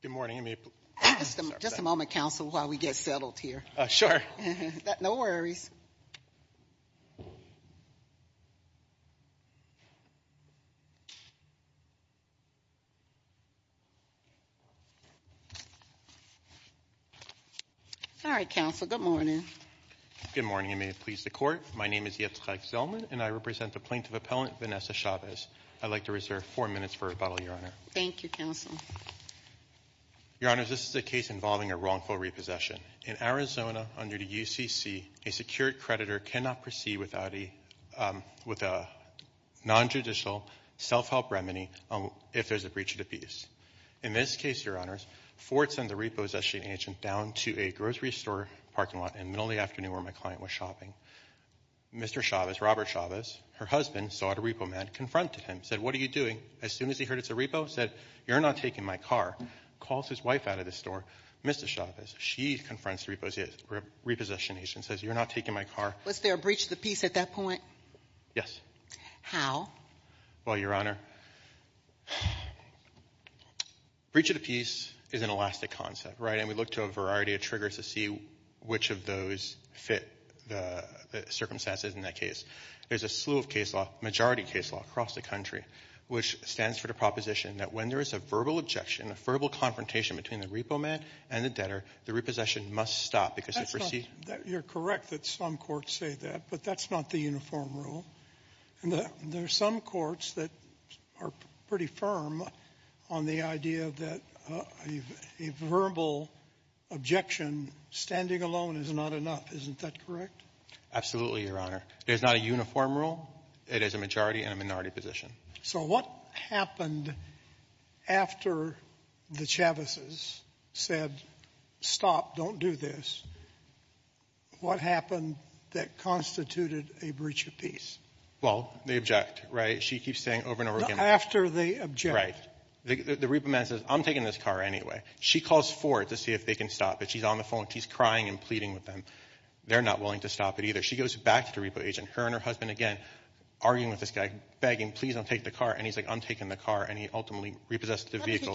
Good morning, Amy. Just a moment, counsel, while we get settled here. Sure. No worries. All right, counsel, good morning. Good morning, and may it please the Court. My name is Yitzhak Zellman, and I represent the Plaintiff Appellant, Vanessa Chavez. I'd like to reserve four minutes for rebuttal, Your Honor. Thank you, counsel. Your Honors, this is a case involving a wrongful repossession. In Arizona, under the UCC, a secured creditor cannot proceed with a nonjudicial self-help remedy if there's a breach of the peace. In this case, Your Honors, Ford sent the repossession agent down to a grocery store parking lot in the middle of the afternoon where my client was shopping. Mr. Chavez, Robert Chavez, her husband, saw the repo man, confronted him, said, what are you doing? As soon as he heard it's a repo, said, you're not taking my car. Calls his wife out of the store, Mrs. Chavez. She confronts the repossession agent and says, you're not taking my car. Was there a breach of the peace at that point? Yes. How? Well, Your Honor, breach of the peace is an elastic concept, right? And we look to a variety of triggers to see which of those fit the circumstances in that case. There's a slew of case law, majority case law, across the country, which stands for the proposition that when there is a verbal objection, a verbal confrontation between the repo man and the debtor, the repossession must stop because it precedes. You're correct that some courts say that, but that's not the uniform rule. There are some courts that are pretty firm on the idea that a verbal objection standing alone is not enough. Isn't that correct? Absolutely, Your Honor. There's not a uniform rule. It is a majority and a minority position. So what happened after the Chavises said, stop, don't do this, what happened that constituted a breach of peace? Well, they object, right? She keeps saying over and over again. After they object. Right. The repo man says, I'm taking this car anyway. She calls Ford to see if they can stop it. She's on the phone. She's crying and pleading with them. They're not willing to stop it either. She goes back to the repo agent, her and her husband again, arguing with this guy, begging, please don't take the car, and he's like, I'm taking the car, and he ultimately repossessed the vehicle.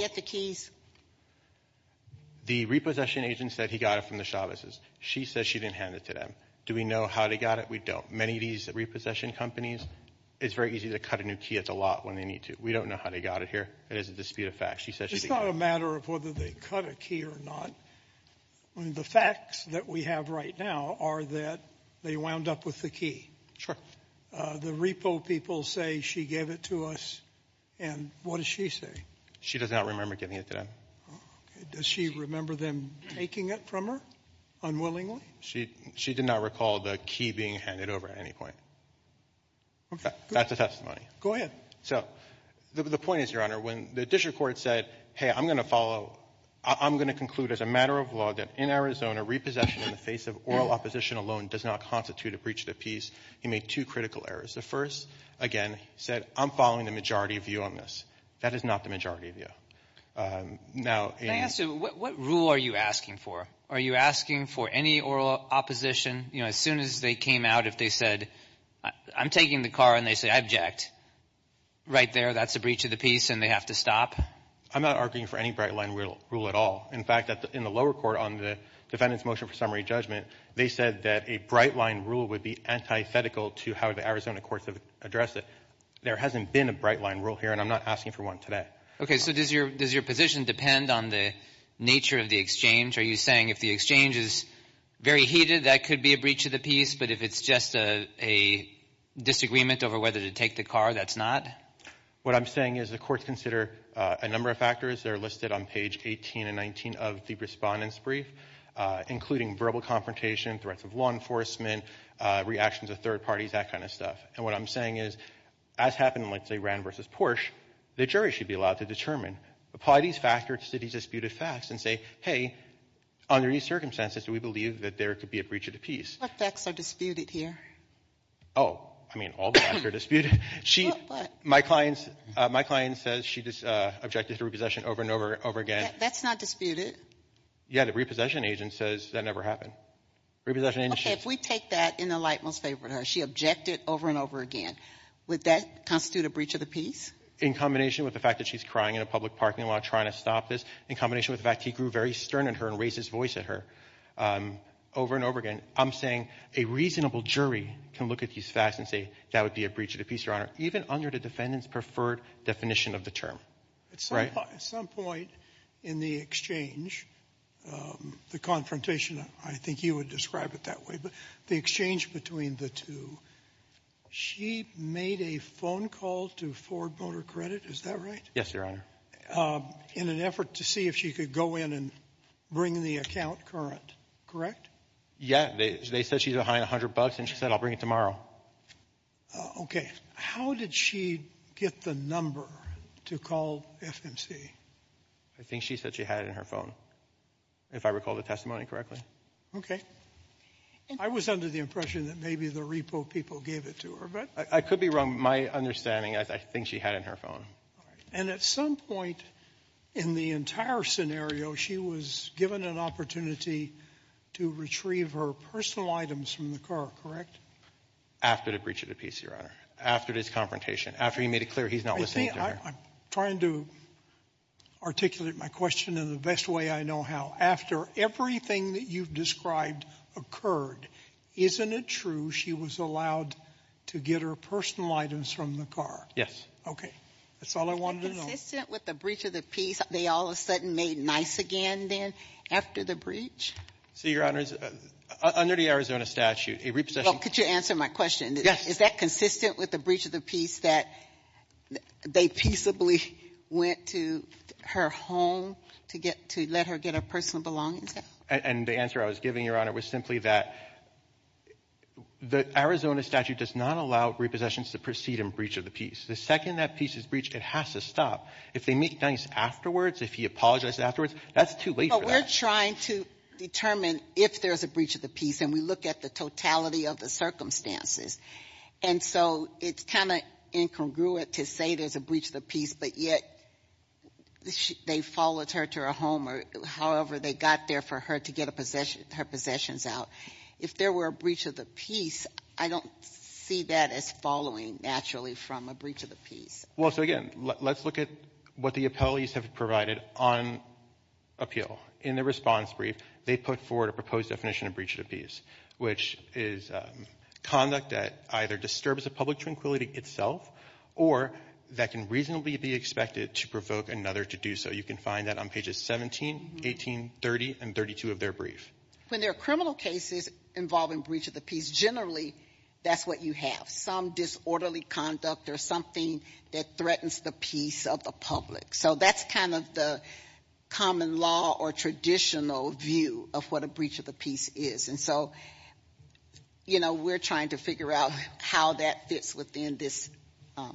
The repossession agent said he got it from the Chavises. She says she didn't hand it to them. Do we know how they got it? We don't. Many of these repossession companies, it's very easy to cut a new key. It's a lot when they need to. We don't know how they got it here. It is a dispute of facts. She says she didn't. It's not a matter of whether they cut a key or not. The facts that we have right now are that they wound up with the key. Sure. The repo people say she gave it to us, and what does she say? She does not remember giving it to them. Does she remember them taking it from her unwillingly? She did not recall the key being handed over at any point. That's a testimony. Go ahead. So, the point is, Your Honor, when the district court said, hey, I'm going to follow, I'm going to conclude as a matter of law that in Arizona, repossession in the face of oral opposition alone does not constitute a breach of the peace. He made two critical errors. The first, again, he said, I'm following the majority view on this. That is not the majority view. Can I ask you, what rule are you asking for? Are you asking for any oral opposition? You know, as soon as they came out, if they said, I'm taking the car, and they say, I object, right there, that's a breach of the peace, and they have to stop? I'm not arguing for any bright line rule at all. In fact, in the lower court on the defendant's motion for summary judgment, they said that a bright line rule would be antithetical to how the Arizona courts have addressed it. There hasn't been a bright line rule here, and I'm not asking for one today. So, does your position depend on the nature of the exchange? Are you saying if the exchange is very heated, that could be a breach of the peace, but if it's just a disagreement over whether to take the car, that's not? What I'm saying is, the courts consider a number of factors. They're listed on page 18 and 19 of the respondent's brief, including verbal confrontation, threats of law enforcement, reactions of third parties, that kind of stuff. And what I'm saying is, as happened in, let's say, Rand v. Porsche, the jury should be allowed to determine. Apply these factors to these disputed facts and say, hey, under these circumstances, do we believe that there could be a breach of the peace? What facts are disputed here? Oh, I mean, all the facts are disputed. My client says she objected to repossession over and over again. That's not disputed. Yeah, the repossession agent says that never happened. Repossession agent says that never happened. Okay, if we take that in the light most favorable to her, she objected over and over again, would that constitute a breach of the peace? In combination with the fact that she's crying in a public parking lot trying to stop this, in combination with the fact that he grew very stern on her and raised his voice at her over and over again, I'm saying a reasonable jury can look at these facts and say that would be a breach of the peace, Your Honor, even under the defendant's preferred definition of the term, right? At some point in the exchange, the confrontation, I think you would describe it that way, but the exchange between the two, she made a phone call to Ford Motor Credit, is that right? Yes, Your Honor. In an effort to see if she could go in and bring the account current, correct? Yeah, they said she's behind 100 bucks and she said, I'll bring it tomorrow. Okay, how did she get the number to call FMC? I think she said she had it in her phone, if I recall the testimony correctly. Okay, I was under the impression that maybe the repo people gave it to her, but I could be wrong. My understanding, I think she had it in her phone. And at some point in the entire scenario, she was given an opportunity to retrieve her personal items from the car, correct? After the breach of the peace, Your Honor, after this confrontation, after he made it clear he's not listening to her. I'm trying to articulate my question in the best way I know how. After everything that you've described occurred, isn't it true she was allowed to get her personal items from the car? Yes. Okay, that's all I wanted to know. Consistent with the breach of the peace, they all of a sudden made nice again then after the breach? See, Your Honor, under the Arizona statute, a repossession Well, could you answer my question? Yes. Is that consistent with the breach of the peace that they peaceably went to her home to let her get her personal belongings? And the answer I was giving, Your Honor, was simply that the Arizona statute does not allow repossessions to proceed in breach of the peace. The second that peace is breached, it has to stop. If they make nice afterwards, if he apologizes afterwards, that's too late for that. We're trying to determine if there's a breach of the peace and we look at the totality of the circumstances. And so it's kind of incongruent to say there's a breach of the peace but yet they followed her to her home or however they got there for her to get her possessions out. If there were a breach of the peace, I don't see that as following naturally from a breach of the peace. Well, so again, let's look at what the appellees have provided on appeal In the response brief, they put forward a proposed definition of breach of the peace which is conduct that either disturbs the public tranquility itself or that can reasonably be expected to provoke another to do so. You can find that on pages 17, 18, 30, and 32 of their brief. When there are criminal cases involving breach of the peace, generally that's what you have. Some disorderly conduct or something that threatens the peace of the public. So that's kind of the common law or traditional view of what a breach of the peace is. And so, you know, we're trying to figure out how that fits within this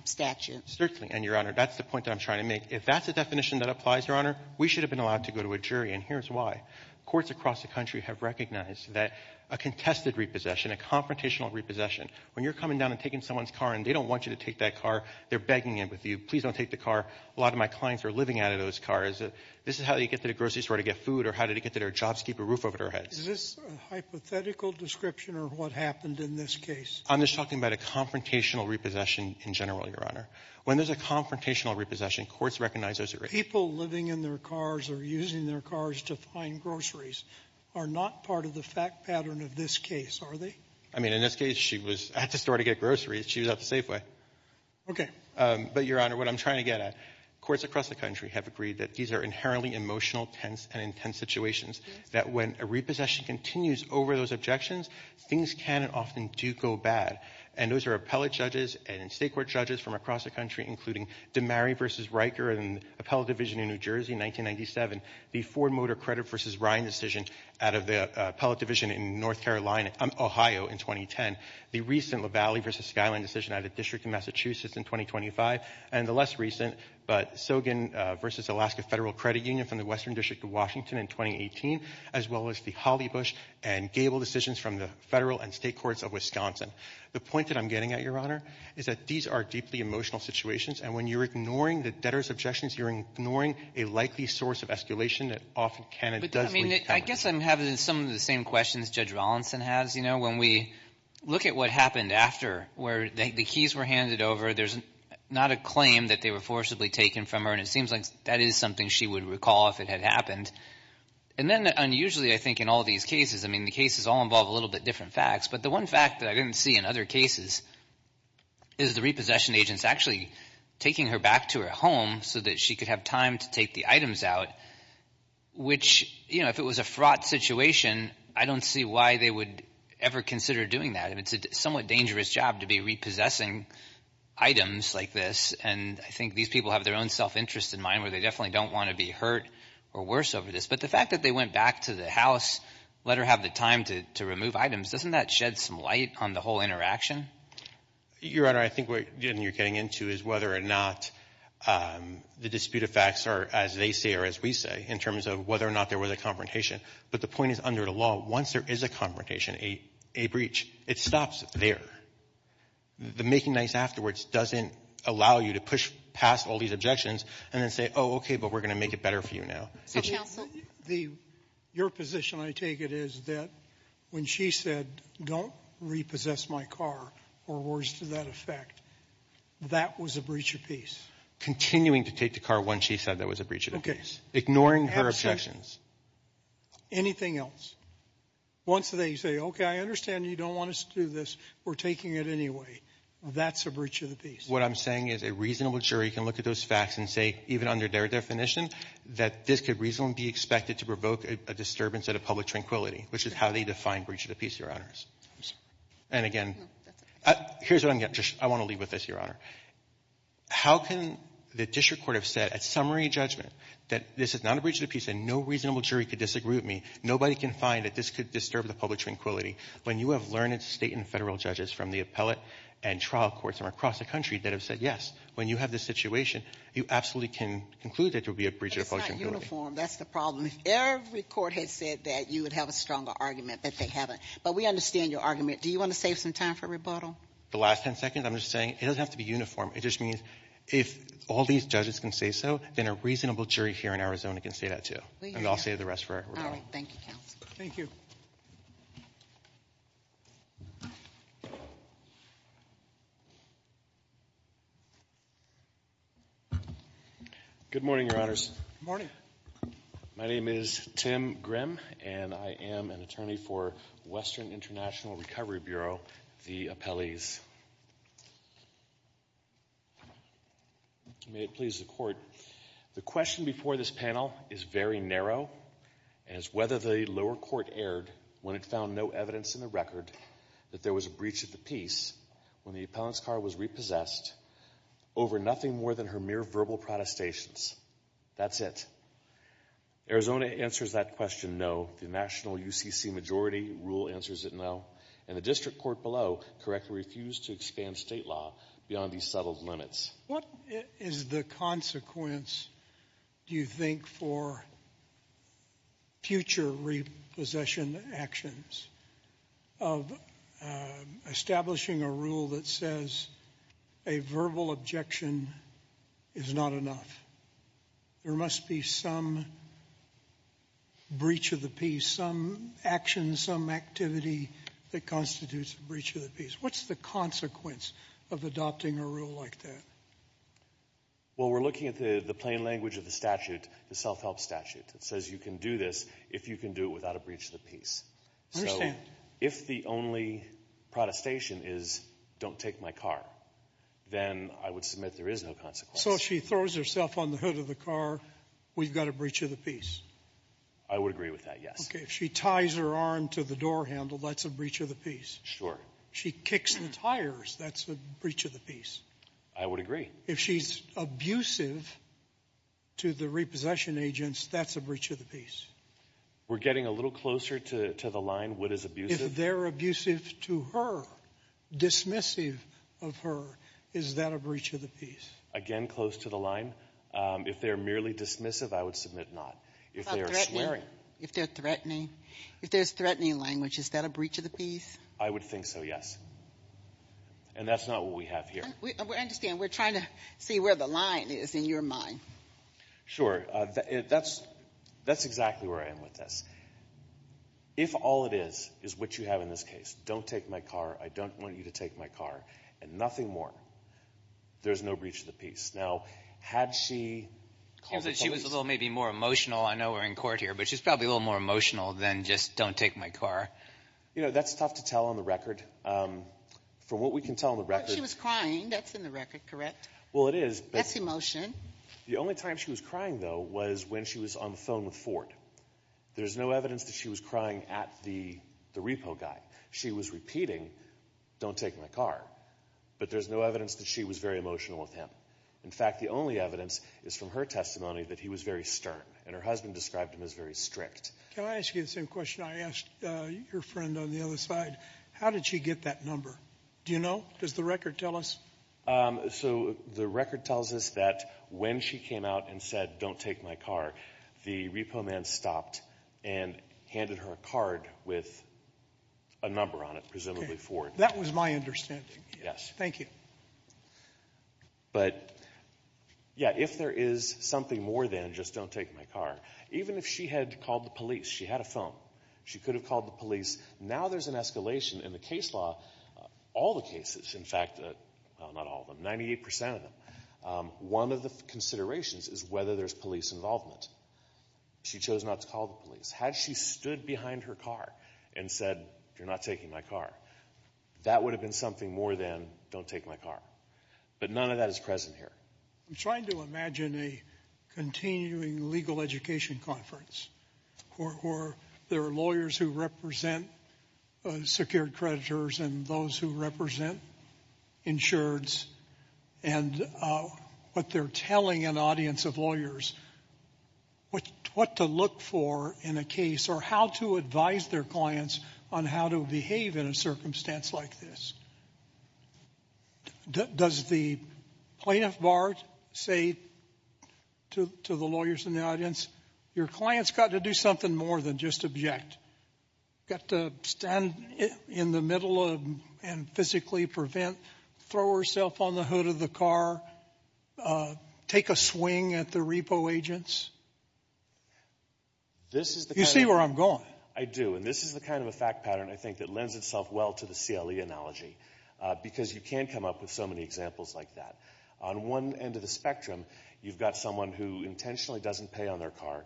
statute. Certainly, and Your Honor, that's the point I'm trying to make. If that's the definition that applies, Your Honor, we should have been allowed to go to a jury and here's why. Courts across the country have recognized that a contested repossession, a confrontational repossession, when you're coming down and taking someone's car and they don't want you to take that car, they're begging you, please don't take the car. A lot of my clients are living out of those cars. This is how you get to the grocery store to get food or how to get to their job to keep a roof over their heads. Is this a hypothetical description of what happened in this case? I'm just talking about a confrontational repossession in general, Your Honor. When there's a confrontational repossession, courts recognize those. People living in their cars or using their cars to find groceries are not part of the fact pattern of this case, are they? I mean, in this case, she was at the store to get groceries. She was at the Safeway. Okay. But, Your Honor, what I'm trying to get at, courts across the country have agreed that these are inherently emotional, tense, and intense situations. That when a repossession continues over those objections, things can and often do go bad. And those are appellate judges and state court judges from across the country, including DiMari v. Riker in the Appellate Division in New Jersey in 1997, the Ford Motor Credit v. Ryan decision out of the Appellate Division in North Carolina, Ohio in 2010, the recent Lavallee v. Skyline decision out of the District of Massachusetts in 2025, and the less recent, but Sogin v. Alaska Federal Credit Union from the Western District of Washington in 2018, as well as the Hollybush and Gable decisions from the federal and state courts of Wisconsin. The point that I'm getting at, Your Honor, is that these are deeply emotional situations, and when you're ignoring the debtors' objections, you're ignoring a likely source of escalation that often can and does recover. I guess I'm having some of the same questions Judge Rollinson has, you know, when we look at what happened after, where the keys were handed over, there's not a claim that they were forcibly taken from her, and it seems like that is something she would recall if it had happened. And then unusually, I think, in all these cases, I mean, the cases all involve a little bit different facts, but the one fact that I didn't see in other cases is the repossession agents actually taking her back to her home so that she could have time to take the items out, which, you know, if it was a fraught situation, I don't see why they would ever consider doing that. I mean, it's a somewhat dangerous job to be repossessing items like this, and I think these people have their own self-interest in mind where they definitely don't want to be hurt or worse over this. But the fact that they went back to the house, let her have the time to remove items, doesn't that shed some light on the whole interaction? Your Honor, I think what you're getting into is whether or not the disputed facts are as they say or as we say, in terms of whether or not there was a confrontation. But the point is, under the law, once there is a confrontation, a breach, it stops there. The making nice afterwards doesn't allow you to push past all these objections and then say, oh, okay, but we're going to make it better for you now. Your position, I take it, is that when she said, don't repossess my car, or words to that effect, that was a breach of peace? Continuing to take the car once she said that was a breach of peace. Anything else? Once they say, okay, I understand you don't want us to do this, we're taking it anyway, that's a breach of the peace. What I'm saying is a reasonable jury can look at those facts and say, even under their definition, that this could reasonably be expected to provoke a disturbance at a public tranquility, which is how they define breach of the peace, Your Honors. And again, here's what I'm getting at. I want to leave with this, Your Honor. How can the district court have said at summary judgment that this is not a breach of the peace and no reasonable jury could disagree with me? Nobody can find that this could disturb the public tranquility. When you have learned state and federal judges from the appellate and trial courts from across the country that have said yes, when you have this situation, you absolutely can conclude that there would be a breach of the public tranquility. That's not uniform. That's the problem. If every court had said that, you would have a stronger argument that they haven't. But we understand your argument. Do you want to save some time for rebuttal? The last 10 seconds, I'm just saying, it doesn't have to be uniform. It just means if all these judges can say so, then a reasonable jury here in Arizona can say that, too. And I'll save the rest for rebuttal. All right. Thank you, counsel. Thank you. Good morning, Your Honors. Good morning. My name is Tim Grimm, and I am an attorney for Western International Recovery Bureau, the appellees. May it please the Court, the question before this panel is very narrow, and it's whether the lower court erred when it found no evidence in the record that there was a breach of the peace when the appellant's car was repossessed over nothing more than her mere verbal protestations. That's it. Arizona answers that question, no. The national UCC majority rule answers it, no. And the district court below correctly refused to expand state law beyond these settled limits. What is the consequence, do you think, for future repossession actions of establishing a rule that says a verbal objection is not enough? There must be some breach of the peace, some action, some activity that constitutes a breach of the peace. What's the consequence of adopting a rule like that? Well, we're looking at the plain language of the statute, the self-help statute, that says you can do this if you can do it without a breach of the peace. I understand. If the only protestation is don't take my car, then I would submit there is no consequence. So if she throws herself on the hood of the car, we've got a breach of the peace? I would agree with that, yes. Okay, if she ties her arm to the door handle, that's a breach of the peace. If she kicks the tires, that's a breach of the peace. I would agree. If she's abusive to the repossession agents, that's a breach of the peace. We're getting a little closer to the line, what is abusive? If they're abusive to her, dismissive of her, is that a breach of the peace? Again, close to the line. If they're merely dismissive, I would submit not. If they're swearing. If there's threatening language, is that a breach of the peace? I would think so, yes. And that's not what we have here. We're trying to see where the line is in your mind. Sure, that's exactly where I am with this. If all it is, is what you have in this case, don't take my car, I don't want you to take my car, and nothing more, there's no breach of the peace. Now, had she called the police? She was maybe a little more emotional, I know we're in court here, but she was probably a little more emotional than just don't take my car. You know, that's tough to tell on the record. From what we can tell on the record... She was crying, that's in the record, correct? That's emotion. The only time she was crying, though, was when she was on the phone with Ford. There's no evidence that she was crying at the repo guy. She was repeating, don't take my car. But there's no evidence that she was very emotional with him. In fact, the only evidence is from her testimony that he was very stern. And her husband described him as very strict. Can I ask you the same question I asked your friend on the other side? How did she get that number? Do you know? Does the record tell us? So, the record tells us that when she came out and said, don't take my car, the repo man stopped and handed her a card with a number on it, presumably Ford. That was my understanding. Thank you. But, yeah, if there is something more than just don't take my car, even if she had called the police, she had a phone, she could have called the police, now there's an escalation in the case law. All the cases, in fact, well, not all of them, 98% of them, one of the considerations is whether there's police involvement. She chose not to call the police. Had she stood behind her car and said, you're not taking my car, that would have been something more than don't take my car. But none of that is present here. I'm trying to imagine a continuing legal education conference where there are lawyers who represent secured creditors and those who represent insureds and what they're telling an audience of lawyers what to look for in a case or how to advise their clients on how to behave in a circumstance like this. Does the plaintiff bar say to the lawyers in the audience, your client's got to do something more than just object. Got to stand in the middle of and physically prevent throw herself on the hood of the car, take a swing at the repo agents? You see where I'm going. I do. And this is the kind of a fact pattern that lends itself well to the CLE analogy because you can come up with so many examples like that. On one end of the spectrum, you've got someone who intentionally doesn't pay on their car,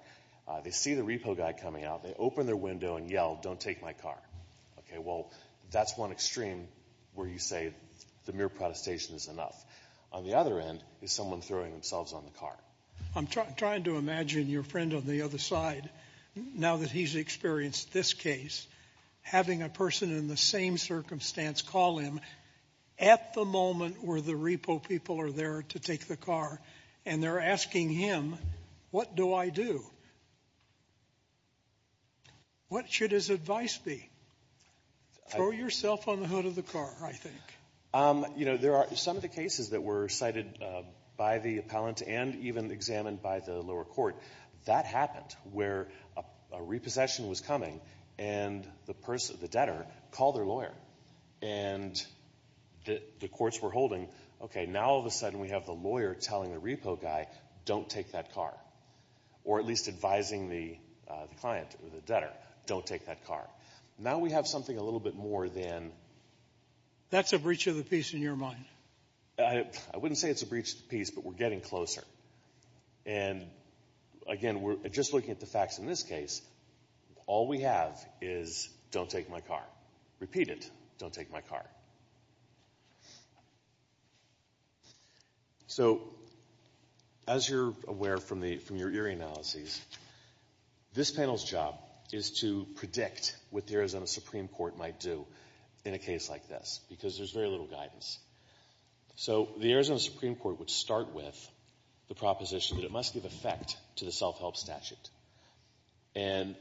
they see the repo guy coming out, they open their window and yell, don't take my car. Okay, well, that's one extreme where you say the mere protestation is enough. On the other end is someone throwing themselves on the car. I'm trying to imagine your friend on the other side now that he's experienced this case, having a person in the same circumstance call him at the moment where the repo people are there to take the car and they're asking him, what do I do? What should his advice be? Throw yourself on the hood of the car, I think. You know, there are some of the cases that were cited by the appellant and even examined by the lower court. That happened where a repossession was coming and the person, the debtor, called their lawyer and the courts were holding, okay, now all of a sudden we have the lawyer telling the repo guy, don't take that car. Or at least advising the client, the debtor, don't take that car. Now we have something a little bit more than That's a breach of the peace in your mind. I wouldn't say it's a breach of the peace, but we're getting closer. And again, just looking at the facts in this case, all we have is don't take my car. Repeat it. Don't take my car. So, as you're aware from your eerie analyses, this panel's job is to predict what the Arizona Supreme Court might do in a case like this because there's very little guidance. So, the Arizona Supreme Court would start with the proposition that it must give effect to the self-help statute. And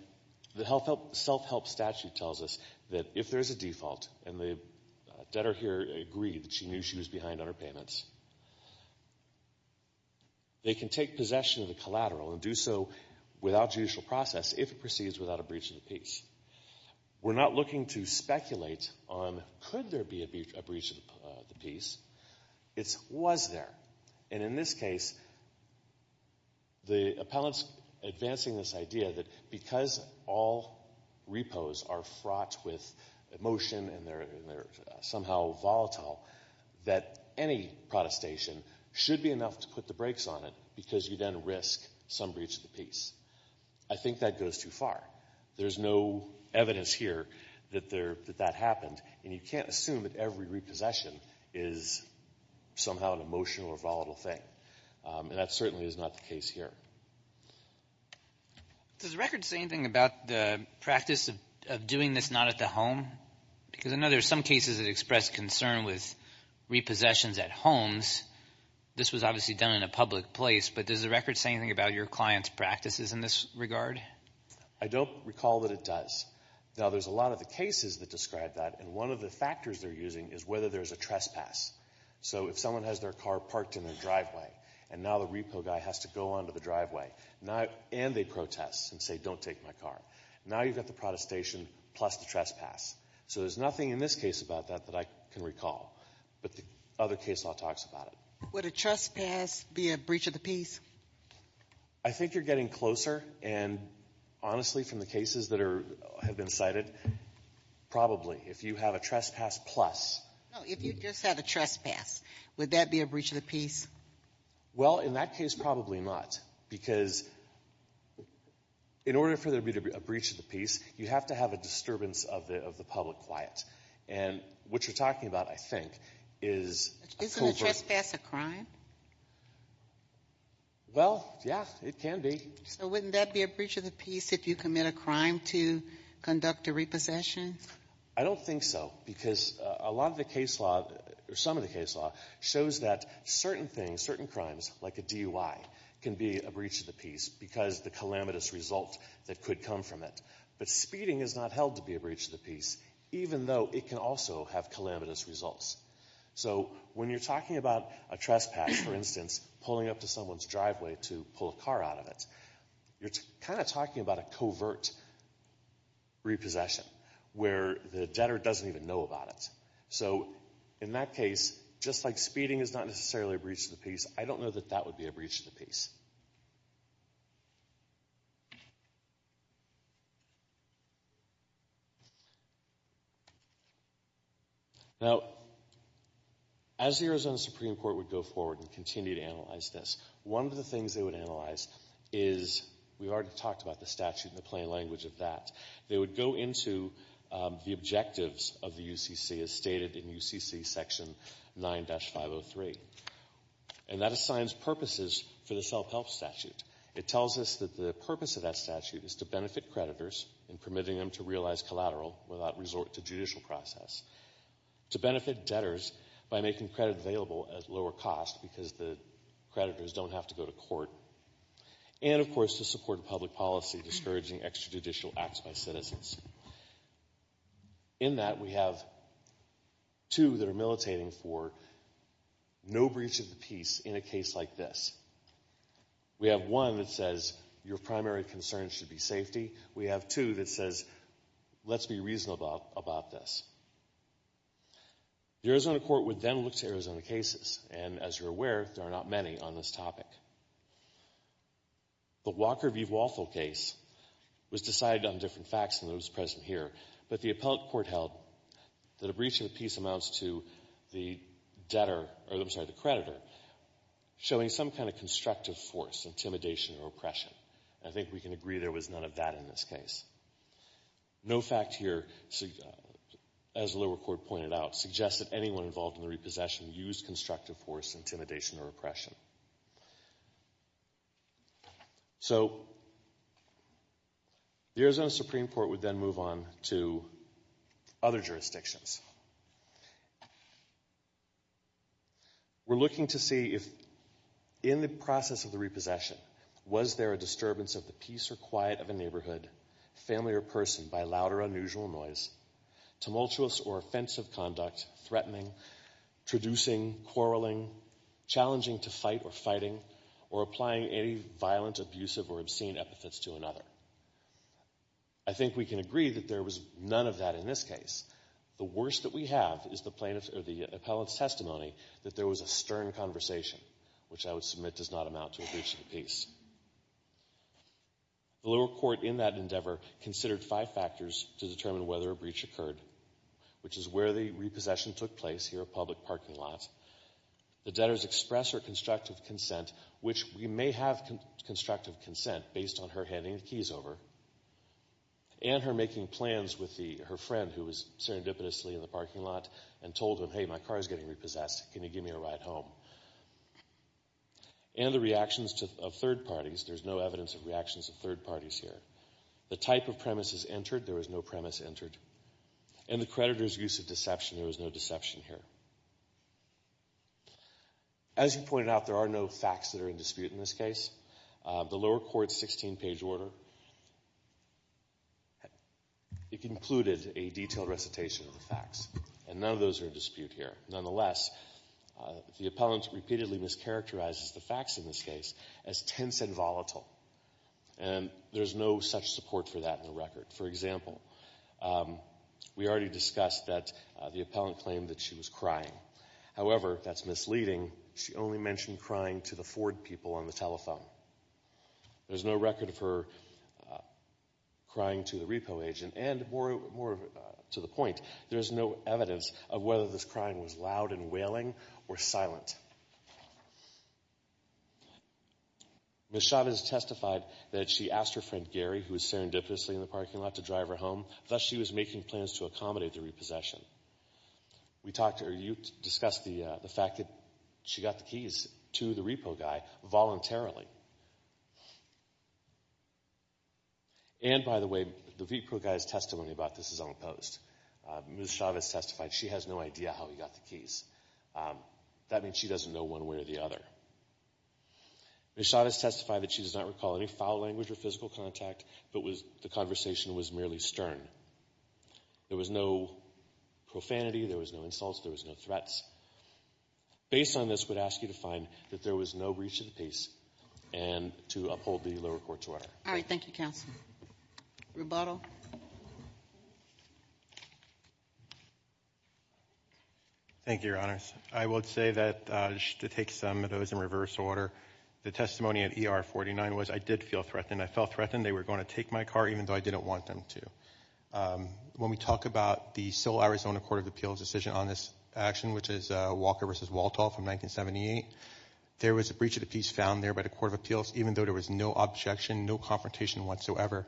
the self-help statute tells us that if there's a default, and the debtor here agreed that she knew she was behind on her payments, they can take possession of the collateral and do so without judicial process if it proceeds without a breach of the peace. We're not looking to speculate on could there be a breach of the peace. It's was there. And in this case, the appellant's advancing this idea that because all repos are fraught with emotion and they're somehow volatile, that any protestation should be enough to put the brakes on it because you then risk some breach of the peace. I think that goes too far. There's no evidence here that that happened and you can't assume that every repossession is somehow an emotional or volatile thing. And that certainly is not the case here. Does the record say anything about the practice of doing this not at the home? Because I know there's some cases that express concern with repossessions at homes. This was obviously done in a public place but does the record say anything about your client's practices in this regard? I don't recall that it does. Now there's a lot of the cases that describe that and one of the factors they're using is whether there's a trespass. So if someone has their car parked in their driveway and now the repo guy has to go onto the driveway and they protest and say don't take my car. Now you've got the protestation plus the trespass. So there's nothing in this case about that that I can recall. But the other case law talks about it. Would a trespass be a breach of the peace? I think you're getting closer and honestly from the cases that have been cited probably. If you have a trespass plus. No, if you just had a trespass, would that be a breach of the peace? Well in that case probably not. Because in order for there to be a breach of the peace you have to have a disturbance of the public quiet. And what you're talking about I think is Isn't a trespass a crime? Well, yeah, it can be. So wouldn't that be a breach of the peace if you commit a crime to conduct a repossession? I don't think so. Because a lot of the case law or some of the case law shows that certain things, certain crimes like a DUI can be a breach of the peace because the calamitous result that could come from it. But speeding is not held to be a breach of the peace even though it can also have calamitous results. So when you're talking about a trespass for instance, pulling up to someone's driveway to pull a car out of it you're kind of talking about a covert repossession where the debtor doesn't even know about it. So in that case, just like speeding is not necessarily a breach of the peace, I don't know that that would be a breach of the peace. Now as the Arizona Supreme Court would go forward and continue to analyze this one of the things they would analyze is, we've already talked about the statute and the plain language of that they would go into the objectives of the UCC as stated in UCC section 9-503 and that assigns purposes for the self-help statute. It tells us that the purpose of that statute is to benefit creditors in permitting them to realize collateral without resort to judicial process. To benefit debtors by making credit available at lower cost because the creditors don't have to go to court. And of course to support public policy discouraging extrajudicial acts by citizens. In that we have two that are militating for no breach of the peace in a case like this. We have one that says your primary concern should be safety we have two that says let's be reasonable about this. The Arizona Court would then look to Arizona cases and as you're aware there are not many on this topic. The Walker v. Waffle case was decided on different facts than those present here but the appellate court held that a breach of the peace amounts to the creditor showing some kind of constructive force, intimidation or oppression. I think we can agree there was none of that in this case. No fact here as the lower court pointed out suggested anyone involved in the repossession used constructive force, intimidation or oppression. So the Arizona Supreme Court would then move on to other jurisdictions. We're looking to see if in the process of the repossession was there a disturbance of the peace or quiet of a neighborhood, family or person by loud or unusual noise tumultuous or offensive conduct, threatening, traducing, quarreling challenging to fight or fighting or applying any violent, abusive or obscene epithets to another. I think we can agree that there was none of that in this case. The worst that we have is the appellate's testimony that there was a stern conversation which I would submit does not amount to a breach of the peace. The lower court in that endeavor considered five factors to determine whether a breach occurred which is where the repossession took place here at public parking lots. The debtor's express or constructive consent, which we may have constructive consent based on her handing the keys over and her making plans with her friend who was serendipitously in the parking lot and told him, hey my car is getting repossessed can you give me a ride home? And the reactions of third parties, there's no evidence of reactions of third parties here. The type of premises entered, there was no premise entered. And the creditor's use of deception, there was no deception here. As you pointed out, there are no facts that are in dispute in this case. The lower court's 16 page order it included a detailed recitation of the facts. And none of those are in dispute here. Nonetheless, the appellant repeatedly mischaracterizes the facts in this case as tense and volatile. And there's no such support for that in the record. For example, we already discussed that the appellant claimed that she was crying. However, that's misleading. She only mentioned crying to the Ford people on the telephone. There's no record of her crying to the repo agent and, more to the point, there's no evidence of whether this crying was loud and wailing or silent. Ms. Chavez testified that she asked her friend Gary, who was serendipitously in the parking lot, to drive her home. Thus, she was making plans to accommodate the repossession. We discussed the fact that she got the keys to the repo guy voluntarily. And, by the way, the repo guy's testimony about this is unopposed. Ms. Chavez testified she has no idea how he got the keys. That means she doesn't know one way or the other. Ms. Chavez testified that she does not recall any foul language or physical contact, but the conversation was merely stern. There was no profanity, there was no insults, there was no threats. Based on this, we'd ask you to find that there was no breach of the peace and to uphold the lower court's order. All right. Thank you, counsel. Rebuttal. Thank you, Your Honors. I would say that just to take some of those in reverse order, the testimony at ER 49 was I did feel threatened. I felt threatened they were going to take my car even though I didn't want them to. When we talk about the civil Arizona Court of Appeals decision on this action, which is Walker v. Walthall from 1978, there was a breach of the peace found there by the Court of Appeals even though there was no objection, no confrontation whatsoever.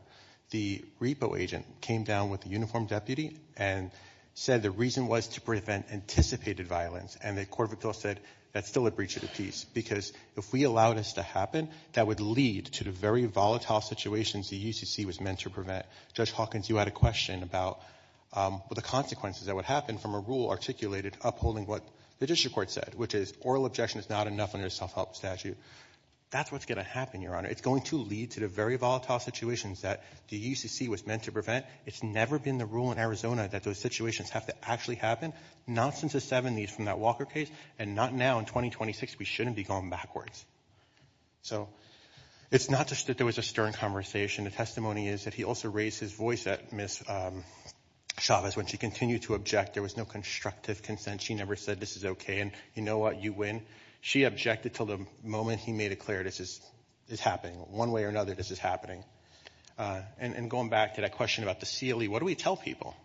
The repo agent came down with a uniformed deputy and said the reason was to prevent anticipated violence and the Court of Appeals said that's still a breach of the peace because if we allowed this to happen, that would lead to the very volatile situations the UCC was meant to prevent. Judge Hawkins, you had a question about the consequences that would happen from a rule articulated upholding what the district court said, which is oral objection is not enough under the self-help statute. That's what's going to happen, Your Honor. It's going to lead to the very volatile situations that the UCC was meant to prevent. It's never been the rule in Arizona that those situations have to actually happen, not since the 70s from that Walker case and not now in 2026. We shouldn't be going backwards. It's not just that there was a stern conversation. The testimony is that he also raised his voice at Ms. Chavez when she continued to object. There was no constructive consent. She never said, this is okay, and you know what, you win. She objected until the moment he made it clear this is happening. One way or another, this is happening. Going back to that question about the CLE, what do we tell people?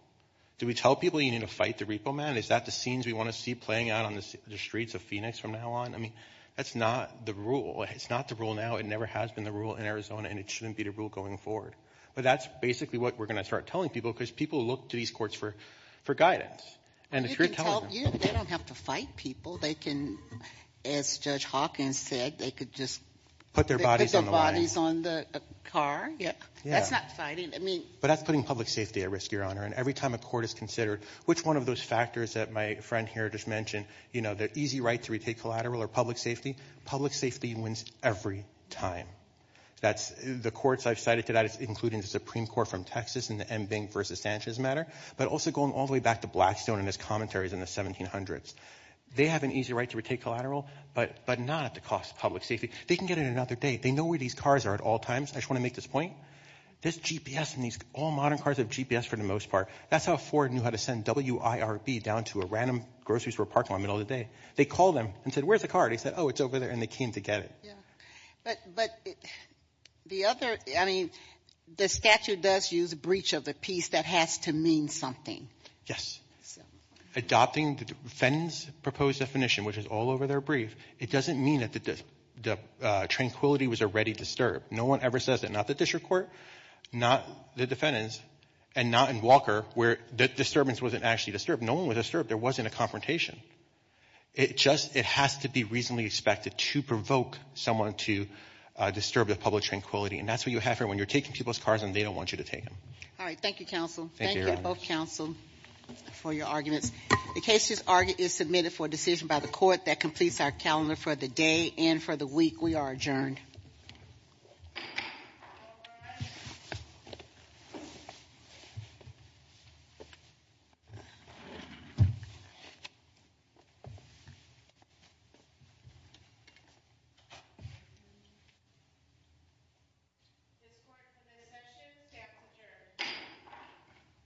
Do we tell people you need to fight the repo man? Is that the scenes we want to see playing out on the streets of Phoenix from now on? That's not the rule. It's not the rule now. It never has been the rule in Arizona, and it shouldn't be the rule going forward. That's basically what we're going to start telling people because people look to these courts for guidance. They don't have to fight people. As Judge Hawkins said, they could just put their bodies on the car. That's not fighting. That's putting public safety at risk, Your Honor. Every time a court is considered, which one of those factors that my friend here just mentioned, the easy right to retake collateral or public safety, public safety wins every time. The courts I've cited to that, including the Supreme Court from Texas in the M. Bing v. Sanchez matter, but also going all the way back to Blackstone and his commentaries in the 1700s. They have an easy right to retake collateral, but not at the cost of public safety. They can get it another day. They know where these cars are at all times. I just want to make this point. There's GPS in these all modern cars that have GPS for the most part. That's how Ford knew how to send WIRB down to a random grocery store parking lot in the middle of the day. They called them and said, where's the car? They said, oh, it's over there, and they came to get it. But the other I mean, the statute does use breach of the peace. That has to mean something. Yes. Adopting the defendant's proposed definition, which is all over their brief, it doesn't mean that the tranquility was already disturbed. No one ever says that. Not the district court, not the defendants, and not in Walker, where the disturbance wasn't actually disturbed. No one was disturbed. There wasn't a confrontation. It just has to be reasonably expected to provoke someone to disturb the public tranquility. And that's what you have when you're taking people's cars and they don't want you to take them. All right. Thank you, counsel. Thank you, both counsel, for your arguments. The case is submitted for decision by the court that completes our calendar for the day and for the week. We are adjourned. This court has been adjourned.